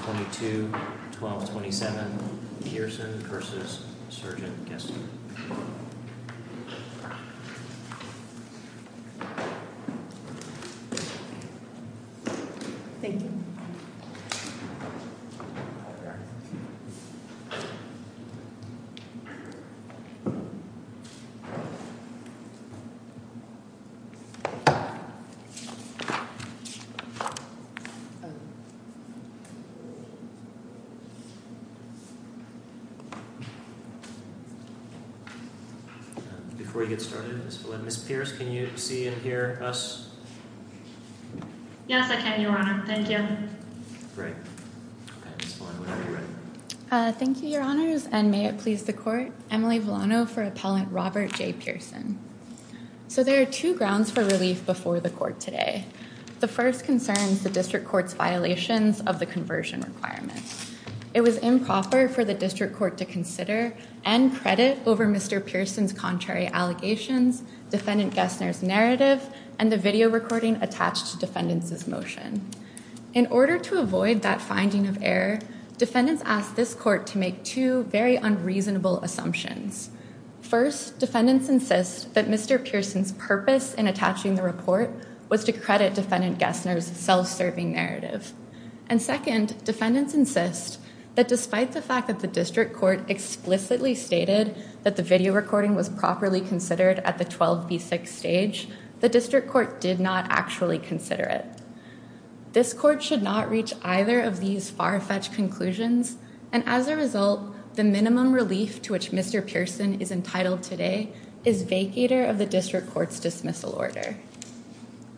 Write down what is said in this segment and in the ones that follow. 22-12-27, Kirsten v. Sgt. Gessner. Thank you. Before we get started, Ms. Villanueva, Ms. Pierce, can you see and hear us? Yes, I can, Your Honor. Thank you. Great. Okay, Ms. Villanueva, are you ready? Thank you, Your Honors, and may it please the Court, Emily Villano for Appellant Robert J. Pearson. So there are two grounds for relief before the Court today. The first concerns the District Court's violations of the conversion requirement. It was improper for the District Court to consider and credit over Mr. Pearson's contrary allegations, Defendant Gessner's narrative, and the video recording attached to defendants' motion. In order to avoid that finding of error, defendants asked this Court to make two very unreasonable assumptions. First, defendants insist that Mr. Pearson's purpose in attaching the report was to credit Defendant Gessner's self-serving narrative. And second, defendants insist that despite the fact that the District Court explicitly stated that the video recording was properly considered at the 12b6 stage, the District Court did not actually consider it. This Court should not reach either of these far-fetched conclusions, and as a result, the minimum relief to which Mr. Pearson is entitled today is vacator of the District Court's dismissal order.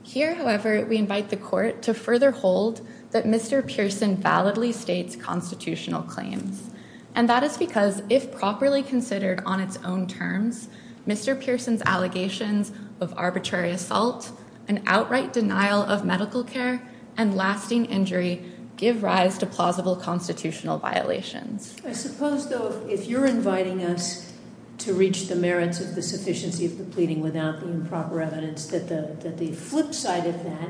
Here, however, we invite the Court to further hold that Mr. Pearson validly states constitutional claims. And that is because, if properly considered on its own terms, Mr. Pearson's allegations of arbitrary assault, an outright denial of medical care, and lasting injury give rise to plausible constitutional violations. I suppose, though, if you're inviting us to reach the merits of the sufficiency of the pleading without the improper evidence, that the flip side of that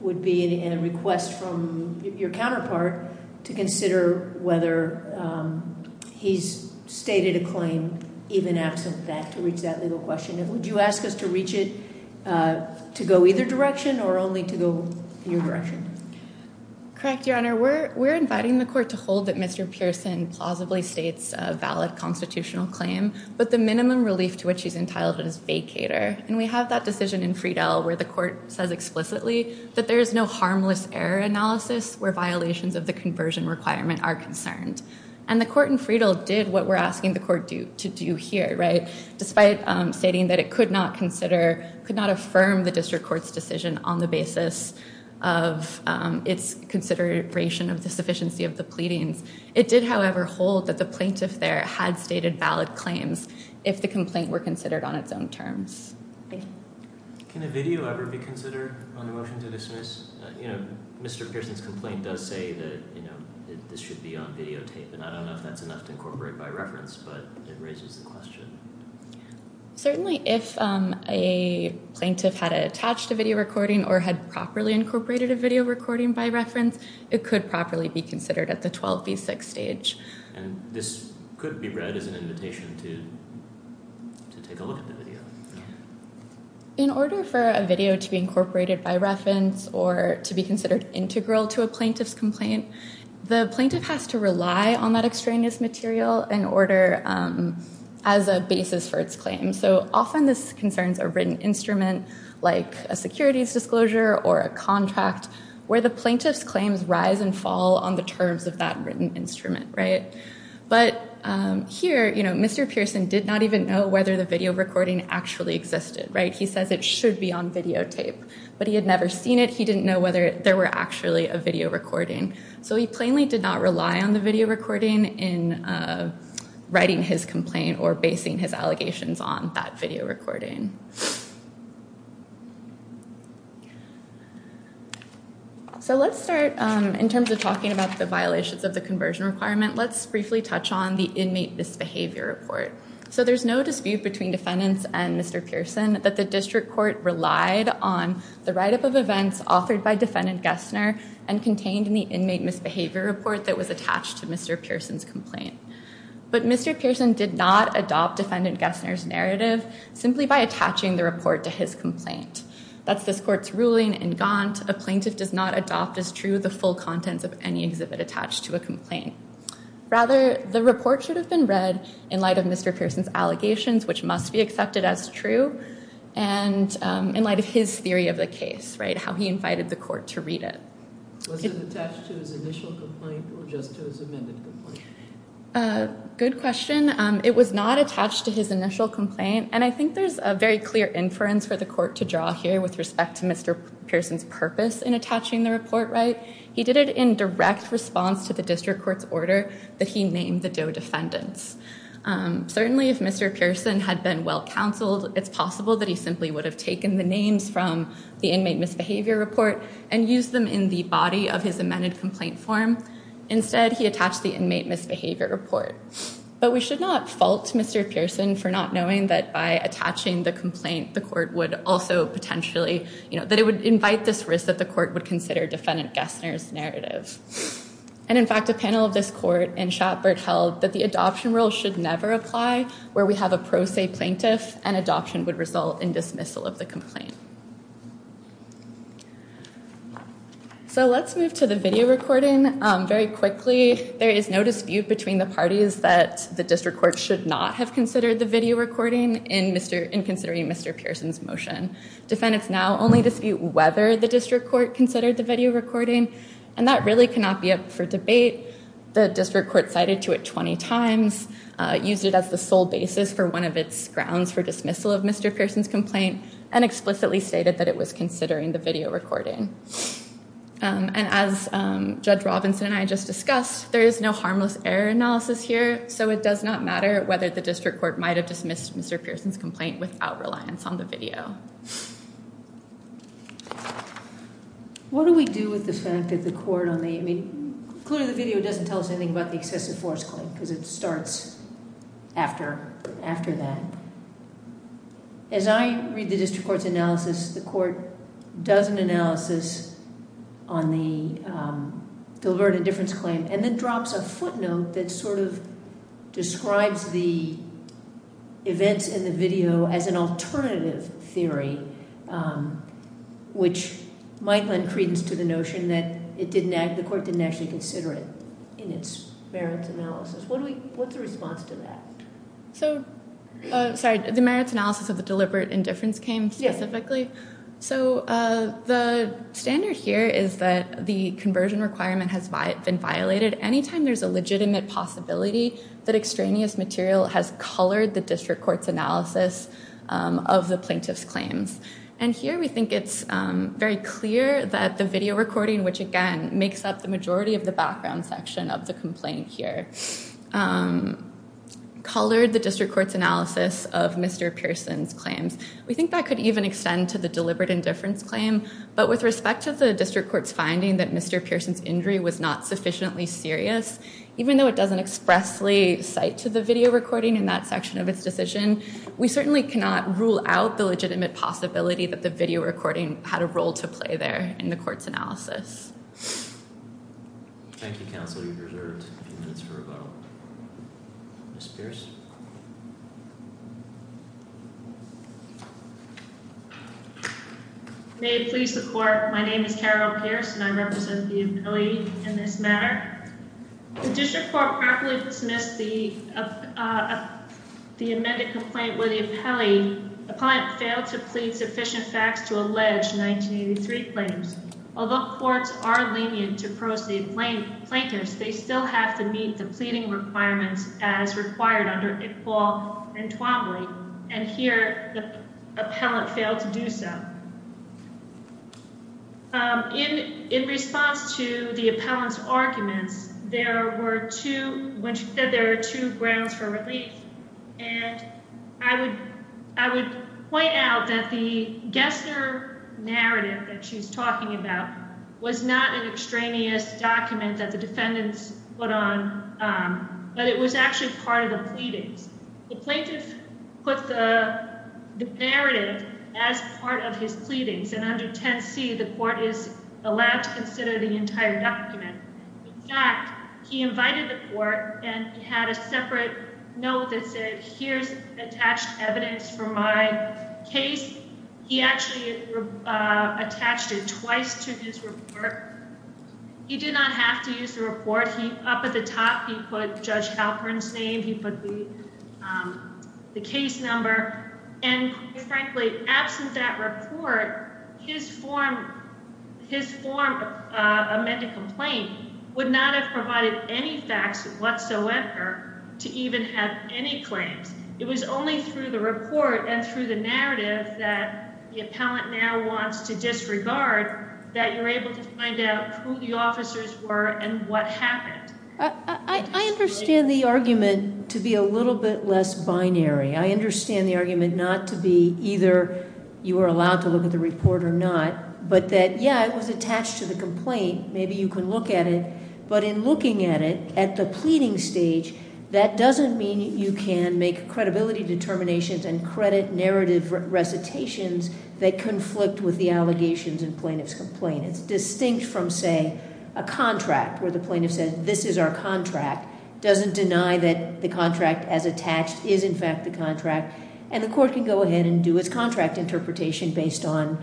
would be a request from your counterpart to consider whether he's stated a claim even absent that, to reach that legal question. Would you ask us to reach it to go either direction, or only to go your direction? Correct, Your Honor. We're inviting the Court to hold that Mr. Pearson plausibly states a valid constitutional claim, but the minimum relief to which he's entitled is vacator. And we have that decision in Friedel where the Court says explicitly that there is no harmless error analysis where violations of the conversion requirement are concerned. And the Court in Friedel did what we're asking the Court to do here, right? Despite stating that it could not consider, could not affirm the District Court's decision on the basis of its consideration of the sufficiency of the pleadings, it did, however, hold that the plaintiff there had stated valid claims if the complaint were considered on its own terms. Thank you. Can a video ever be considered on the motion to dismiss? You know, Mr. Pearson's complaint does say that, you know, this should be on videotape, and I don't know if that's enough to incorporate by reference, but it raises the question. Certainly if a plaintiff had attached a video recording or had properly incorporated a video recording by reference, it could properly be considered at the 12B6 stage. And this could be read as an invitation to take a look at the video. In order for a video to be incorporated by reference or to be considered integral to a plaintiff's complaint, the plaintiff has to rely on that extraneous material in order as a basis for its claim. So often this concerns a written instrument like a securities disclosure or a contract where the plaintiff's claims rise and fall on the terms of that written instrument, right? But here, you know, Mr. Pearson did not even know whether the video recording actually existed, right? He says it should be on videotape, but he had never seen it. He didn't know whether there were actually a video recording. So he plainly did not rely on the video recording in writing his complaint or basing his allegations on that video recording. So let's start in terms of talking about the violations of the conversion requirement. Let's briefly touch on the inmate misbehavior report. So there's no dispute between defendants and Mr. Pearson that the district court relied on the write-up of events authored by defendant Gessner and contained in the inmate misbehavior report that was attached to Mr. Pearson's complaint. But Mr. Pearson did not adopt defendant Gessner's narrative simply by attaching the report to his complaint. That's this court's ruling in Gaunt. A plaintiff does not adopt as true the full contents of any exhibit attached to a complaint. Rather, the report should have been read in light of Mr. Pearson's allegations, which must be accepted as true, and in light of his theory of the case, how he invited the court to read it. Was it attached to his initial complaint or just to his amended complaint? Good question. It was not attached to his initial complaint, and I think there's a very clear inference for the court to draw here with respect to Mr. Pearson's purpose in attaching the report. He did it in direct response to the district court's order that he named the DOE defendants. Certainly, if Mr. Pearson had been well counseled, it's possible that he simply would have taken the names from the inmate misbehavior report and used them in the body of his amended complaint form. Instead, he attached the inmate misbehavior report. But we should not fault Mr. Pearson for not knowing that by attaching the complaint, the court would also potentially, you know, that it would invite this risk that the court would consider defendant Gessner's narrative. And, in fact, a panel of this court in Shatbert held that the adoption rule should never apply where we have a pro se plaintiff and adoption would result in dismissal of the complaint. So let's move to the video recording. Very quickly, there is no dispute between the parties that the district court should not have considered the video recording in considering Mr. Pearson's motion. Defendants now only dispute whether the district court considered the video recording, and that really cannot be up for debate. The district court cited to it 20 times, used it as the sole basis for one of its grounds for dismissal of Mr. Pearson's complaint, and explicitly stated that it was considering the video recording. And as Judge Robinson and I just discussed, there is no harmless error analysis here, so it does not matter whether the district court might have dismissed Mr. Pearson's complaint without reliance on the video. What do we do with the fact that the court on the... I mean, clearly the video doesn't tell us anything about the excessive force claim because it starts after that. As I read the district court's analysis, the court does an analysis on the deliberate indifference claim and then drops a footnote that sort of describes the events in the video as an alternative theory, which might lend credence to the notion that the court didn't actually consider it in its merits analysis. What's the response to that? So, sorry, the merits analysis of the deliberate indifference claim specifically? Yes. So the standard here is that the conversion requirement has been violated. Anytime there's a legitimate possibility that extraneous material has colored the district court's analysis of the plaintiff's claims. And here we think it's very clear that the video recording, which again makes up the majority of the background section of the complaint here, colored the district court's analysis of Mr. Pearson's claims. We think that could even extend to the deliberate indifference claim, but with respect to the district court's finding that Mr. Pearson's injury was not sufficiently serious, even though it doesn't expressly cite to the video recording in that section of its decision, we certainly cannot rule out the legitimate possibility that the video recording had a role to play there in the court's analysis. Thank you, counsel. You've reserved a few minutes for a vote. Ms. Pierce? May it please the court, my name is Carol Pierce and I represent the employee in this matter. The district court properly dismissed the amended complaint where the appellee, the client, failed to plead sufficient facts to allege 1983 claims. Although courts are lenient to pro se plaintiffs, they still have to meet the pleading requirements as required under Iqbal and Twombly, and here the appellant failed to do so. In response to the appellant's arguments, there were two, when she said there were two grounds for relief, and I would point out that the Gessner narrative that she's talking about was not an extraneous document that the defendants put on, but it was actually part of the pleadings. The plaintiff put the narrative as part of his pleadings, and under 10C the court is allowed to consider the entire document. In fact, he invited the court and had a separate note that said, here's attached evidence for my case. He actually attached it twice to his report. He did not have to use the report. He, up at the top, he put Judge Halpern's name, he put the case number, and frankly, absent that report, his form of amended complaint would not have provided any facts whatsoever to even have any claims. It was only through the report and through the narrative that the appellant now wants to disregard that you're able to find out who the officers were and what happened. I understand the argument to be a little bit less binary. I understand the argument not to be either you are allowed to look at the report or not, but that, yeah, it was attached to the complaint, maybe you can look at it, but in looking at it at the pleading stage, that doesn't mean you can make credibility determinations and credit narrative recitations that conflict with the allegations in plaintiff's complaint. It's distinct from, say, a contract where the plaintiff says, this is our contract, doesn't deny that the contract as attached is in fact the contract, and the court can go ahead and do its contract interpretation based on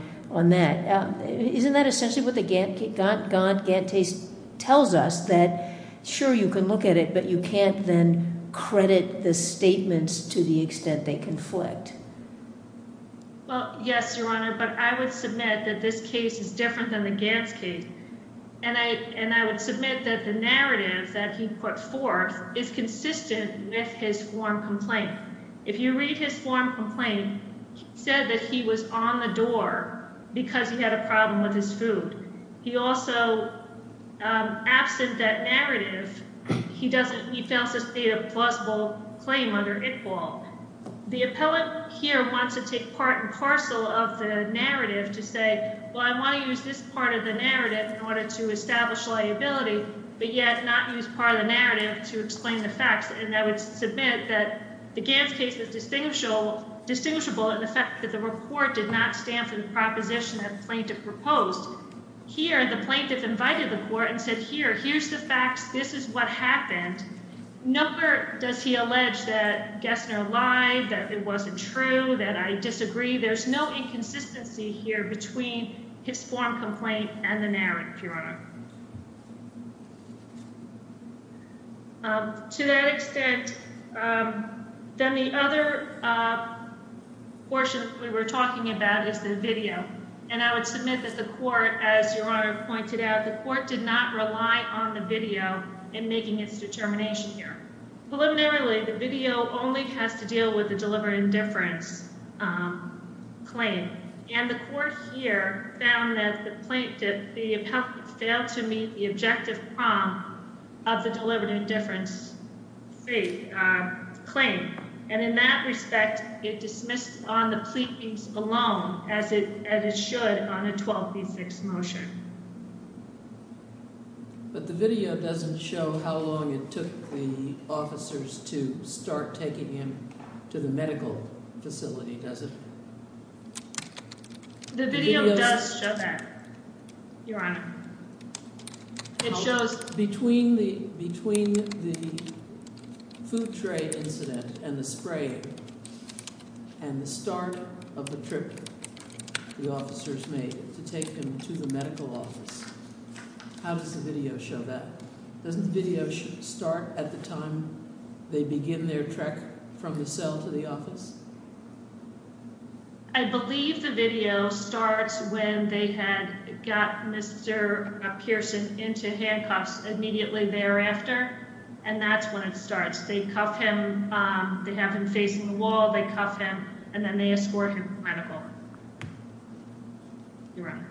that. Isn't that essentially what the Gantt case tells us, that sure, you can look at it, but you can't then credit the statements to the extent they conflict? Well, yes, Your Honor, but I would submit that this case is different than the Gantt case, and I would submit that the narrative that he put forth is consistent with his form complaint. If you read his form complaint, he said that he was on the door because he had a problem with his food. He also, absent that narrative, he found this to be a plausible claim under Iqbal. The appellate here wants to take part and parcel of the narrative to say, well, I want to use this part of the narrative in order to establish liability, but yet not use part of the narrative to explain the facts, and I would submit that the Gantt case is distinguishable in the fact that the report did not stamp the proposition that the plaintiff proposed. Here, the plaintiff invited the court and said, here, here's the facts. This is what happened. Nowhere does he allege that Gessner lied, that it wasn't true, that I disagree. There's no inconsistency here between his form complaint and the narrative, Your Honor. To that extent, then the other portion we were talking about is the video, and I would submit that the court, as Your Honor pointed out, that the court did not rely on the video in making its determination here. Preliminarily, the video only has to deal with the deliberate indifference claim, and the court here found that the plaintiff failed to meet the objective prong of the deliberate indifference claim, and in that respect, it dismissed on the pleadings alone as it should on a 12B6 motion. But the video doesn't show how long it took the officers to start taking him to the medical facility, does it? The video does show that, Your Honor. It shows between the food tray incident and the spraying and the start of the trip the officers made to take him to the medical office. How does the video show that? Doesn't the video start at the time they begin their trek from the cell to the office? I believe the video starts when they had got Mr. Pearson into handcuffs immediately thereafter, and that's when it starts. They cuff him. They have him facing the wall. They cuff him, and then they escort him to the medical. Your Honor.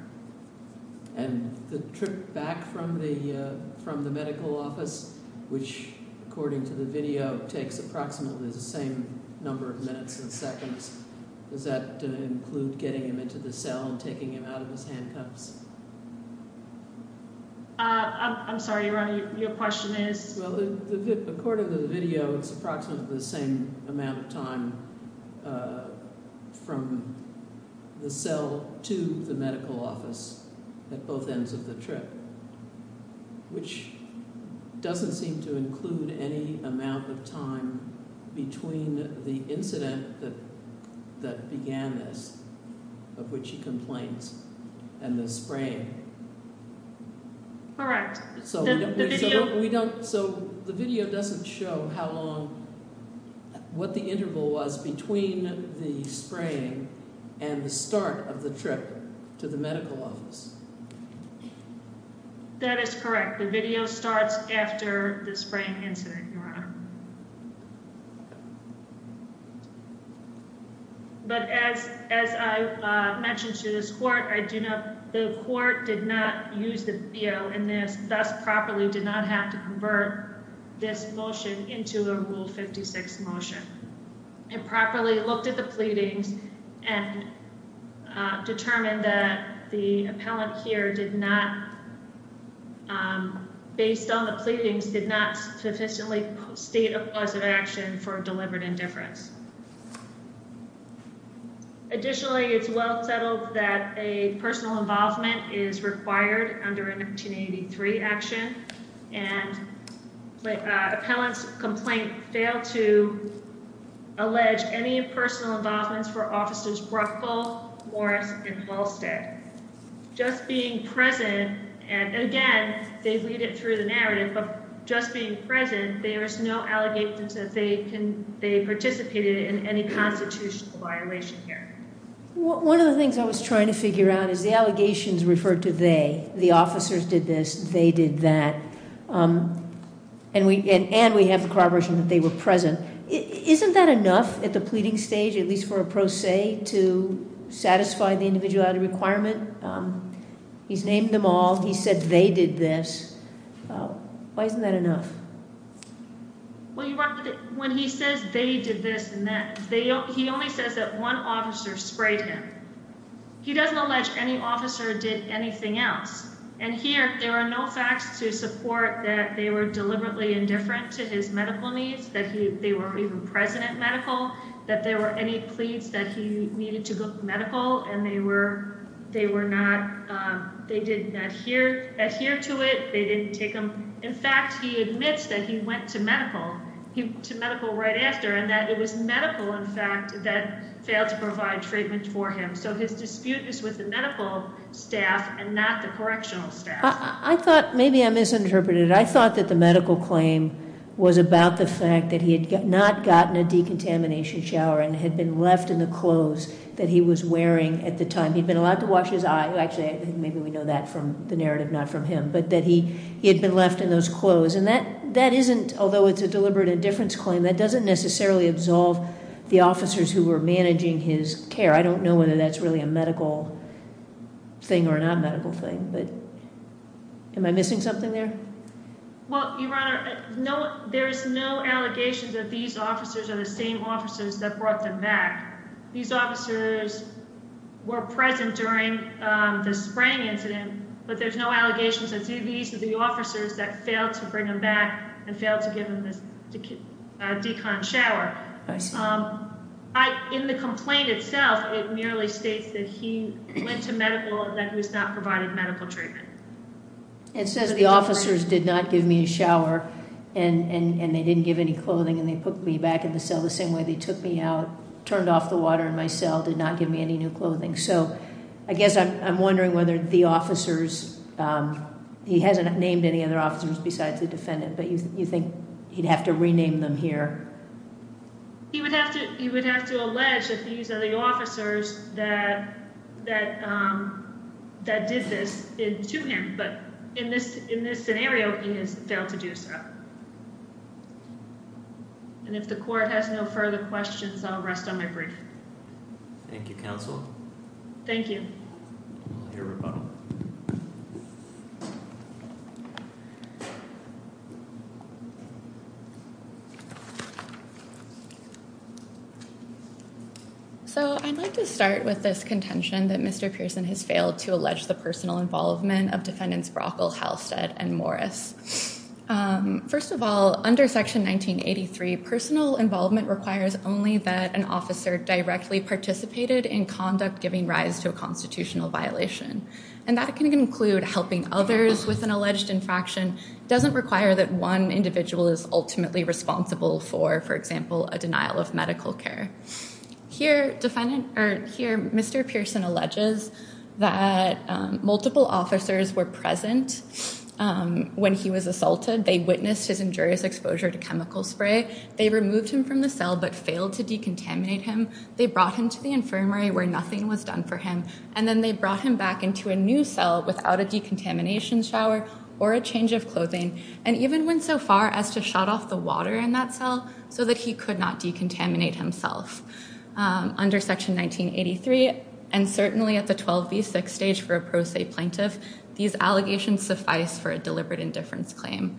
And the trip back from the medical office, which, according to the video, takes approximately the same number of minutes and seconds, does that include getting him into the cell and taking him out of his handcuffs? I'm sorry, Your Honor. Your question is? Well, according to the video, it's approximately the same amount of time from the cell to the medical office at both ends of the trip, which doesn't seem to include any amount of time between the incident that began this, of which he complains, and the spraying. All right. So the video doesn't show how long, what the interval was between the spraying and the start of the trip to the medical office? That is correct. The video starts after the spraying incident, Your Honor. But as I mentioned to this court, the court did not use the video in this, thus properly did not have to convert this motion into a Rule 56 motion. It properly looked at the pleadings and determined that the appellant here did not, based on the pleadings, did not sufficiently state a cause of action for deliberate indifference. Additionally, it's well settled that a personal involvement is required under an 1883 action, and the appellant's complaint failed to allege any personal involvements for Officers Bruckle, Morris, and Halsted. Just being present, and again, they lead it through the narrative, but just being present, there's no allegations that they participated in any constitutional violation here. One of the things I was trying to figure out is the allegations referred to they. The officers did this, they did that, and we have the corroboration that they were present. Isn't that enough at the pleading stage, at least for a pro se, to satisfy the individuality requirement? He's named them all, he said they did this. Why isn't that enough? Well, Your Honor, when he says they did this and that, he only says that one officer sprayed him. He doesn't allege any officer did anything else. And here, there are no facts to support that they were deliberately indifferent to his medical needs, that they were even present at medical, that there were any pleas that he needed to go to medical, and they were not, they did not adhere to it, they didn't take him. In fact, he admits that he went to medical right after, and that it was medical, in fact, that failed to provide treatment for him. So his dispute is with the medical staff and not the correctional staff. Maybe I misinterpreted it. I thought that the medical claim was about the fact that he had not gotten a decontamination shower and had been left in the clothes that he was wearing at the time. He'd been allowed to wash his eyes. Actually, maybe we know that from the narrative, not from him. But that he had been left in those clothes. And that isn't, although it's a deliberate indifference claim, that doesn't necessarily absolve the officers who were managing his care. I don't know whether that's really a medical thing or a non-medical thing. But am I missing something there? Well, Your Honor, there is no allegation that these officers are the same officers that brought them back. These officers were present during the spraying incident, but there's no allegations that these are the officers that failed to bring him back and failed to give him a decon shower. I see. In the complaint itself, it merely states that he went to medical and that he was not provided medical treatment. It says the officers did not give me a shower, and they didn't give any clothing, and they put me back in the cell the same way they took me out, turned off the water in my cell, did not give me any new clothing. So I guess I'm wondering whether the officers, he hasn't named any other officers besides the defendant, but you think he'd have to rename them here? He would have to allege that these are the officers that did this to him. But in this scenario, he has failed to do so. And if the court has no further questions, I'll rest on my brief. Thank you, counsel. Thank you. I'll hear rebuttal. So I'd like to start with this contention that Mr. Pearson has failed to allege the personal involvement of defendants Brockle, Halstead, and Morris. First of all, under Section 1983, personal involvement requires only that an officer directly participated in conduct giving rise to a constitutional violation. And that can include helping others with an alleged infraction. It doesn't require that one individual is ultimately responsible for, for example, a denial of medical care. Here, Mr. Pearson alleges that multiple officers were present when he was assaulted. They witnessed his injurious exposure to chemical spray. They removed him from the cell but failed to decontaminate him. They brought him to the infirmary where nothing was done for him. And then they brought him back into a new cell without a decontamination shower or a change of clothing. And even went so far as to shut off the water in that cell so that he could not decontaminate himself. Under Section 1983, and certainly at the 12v6 stage for a pro se plaintiff, these allegations suffice for a deliberate indifference claim.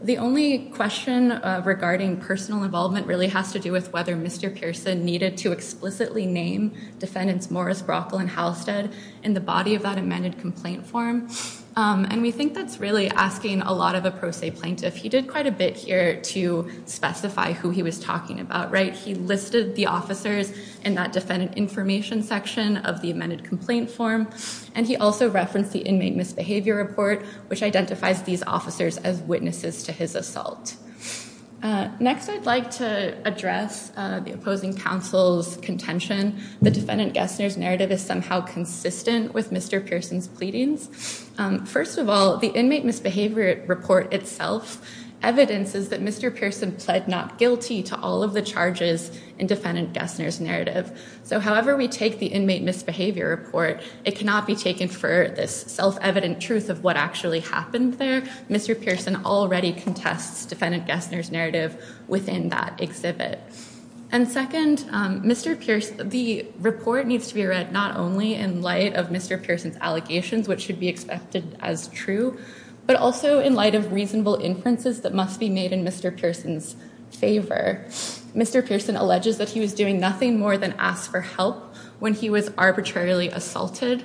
The only question regarding personal involvement really has to do with whether Mr. Pearson needed to explicitly name defendants Morris, Brockle, and Halstead in the body of that amended complaint form. And we think that's really asking a lot of a pro se plaintiff. He did quite a bit here to specify who he was talking about, right? He listed the officers in that defendant information section of the amended complaint form. And he also referenced the inmate misbehavior report which identifies these officers as witnesses to his assault. Next I'd like to address the opposing counsel's contention. The defendant Gessner's narrative is somehow consistent with Mr. Pearson's pleadings. First of all, the inmate misbehavior report itself evidences that Mr. Pearson pled not guilty to all of the charges in defendant Gessner's narrative. So however we take the inmate misbehavior report, it cannot be taken for this self-evident truth of what actually happened there. Mr. Pearson already contests defendant Gessner's narrative within that exhibit. And second, the report needs to be read not only in light of Mr. Pearson's allegations which should be expected as true, but also in light of reasonable inferences that must be made in Mr. Pearson's favor. Mr. Pearson alleges that he was doing nothing more than ask for help when he was arbitrarily assaulted.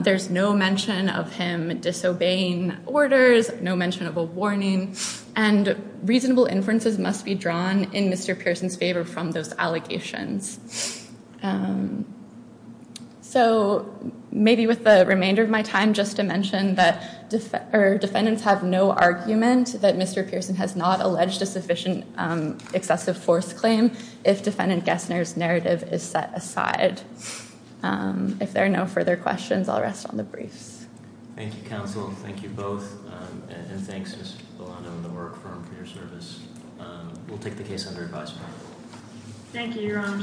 There's no mention of him disobeying orders, no mention of a warning, and reasonable inferences must be drawn in Mr. Pearson's favor from those allegations. So maybe with the remainder of my time just to mention that defendants have no argument that Mr. Pearson has not alleged a sufficient excessive force claim if defendant Gessner's narrative is set aside. If there are no further questions, I'll rest on the briefs. Thank you, counsel. Thank you both. And thanks, as well, I know the work firm for your service. We'll take the case under advisory. Thank you, Your Honor.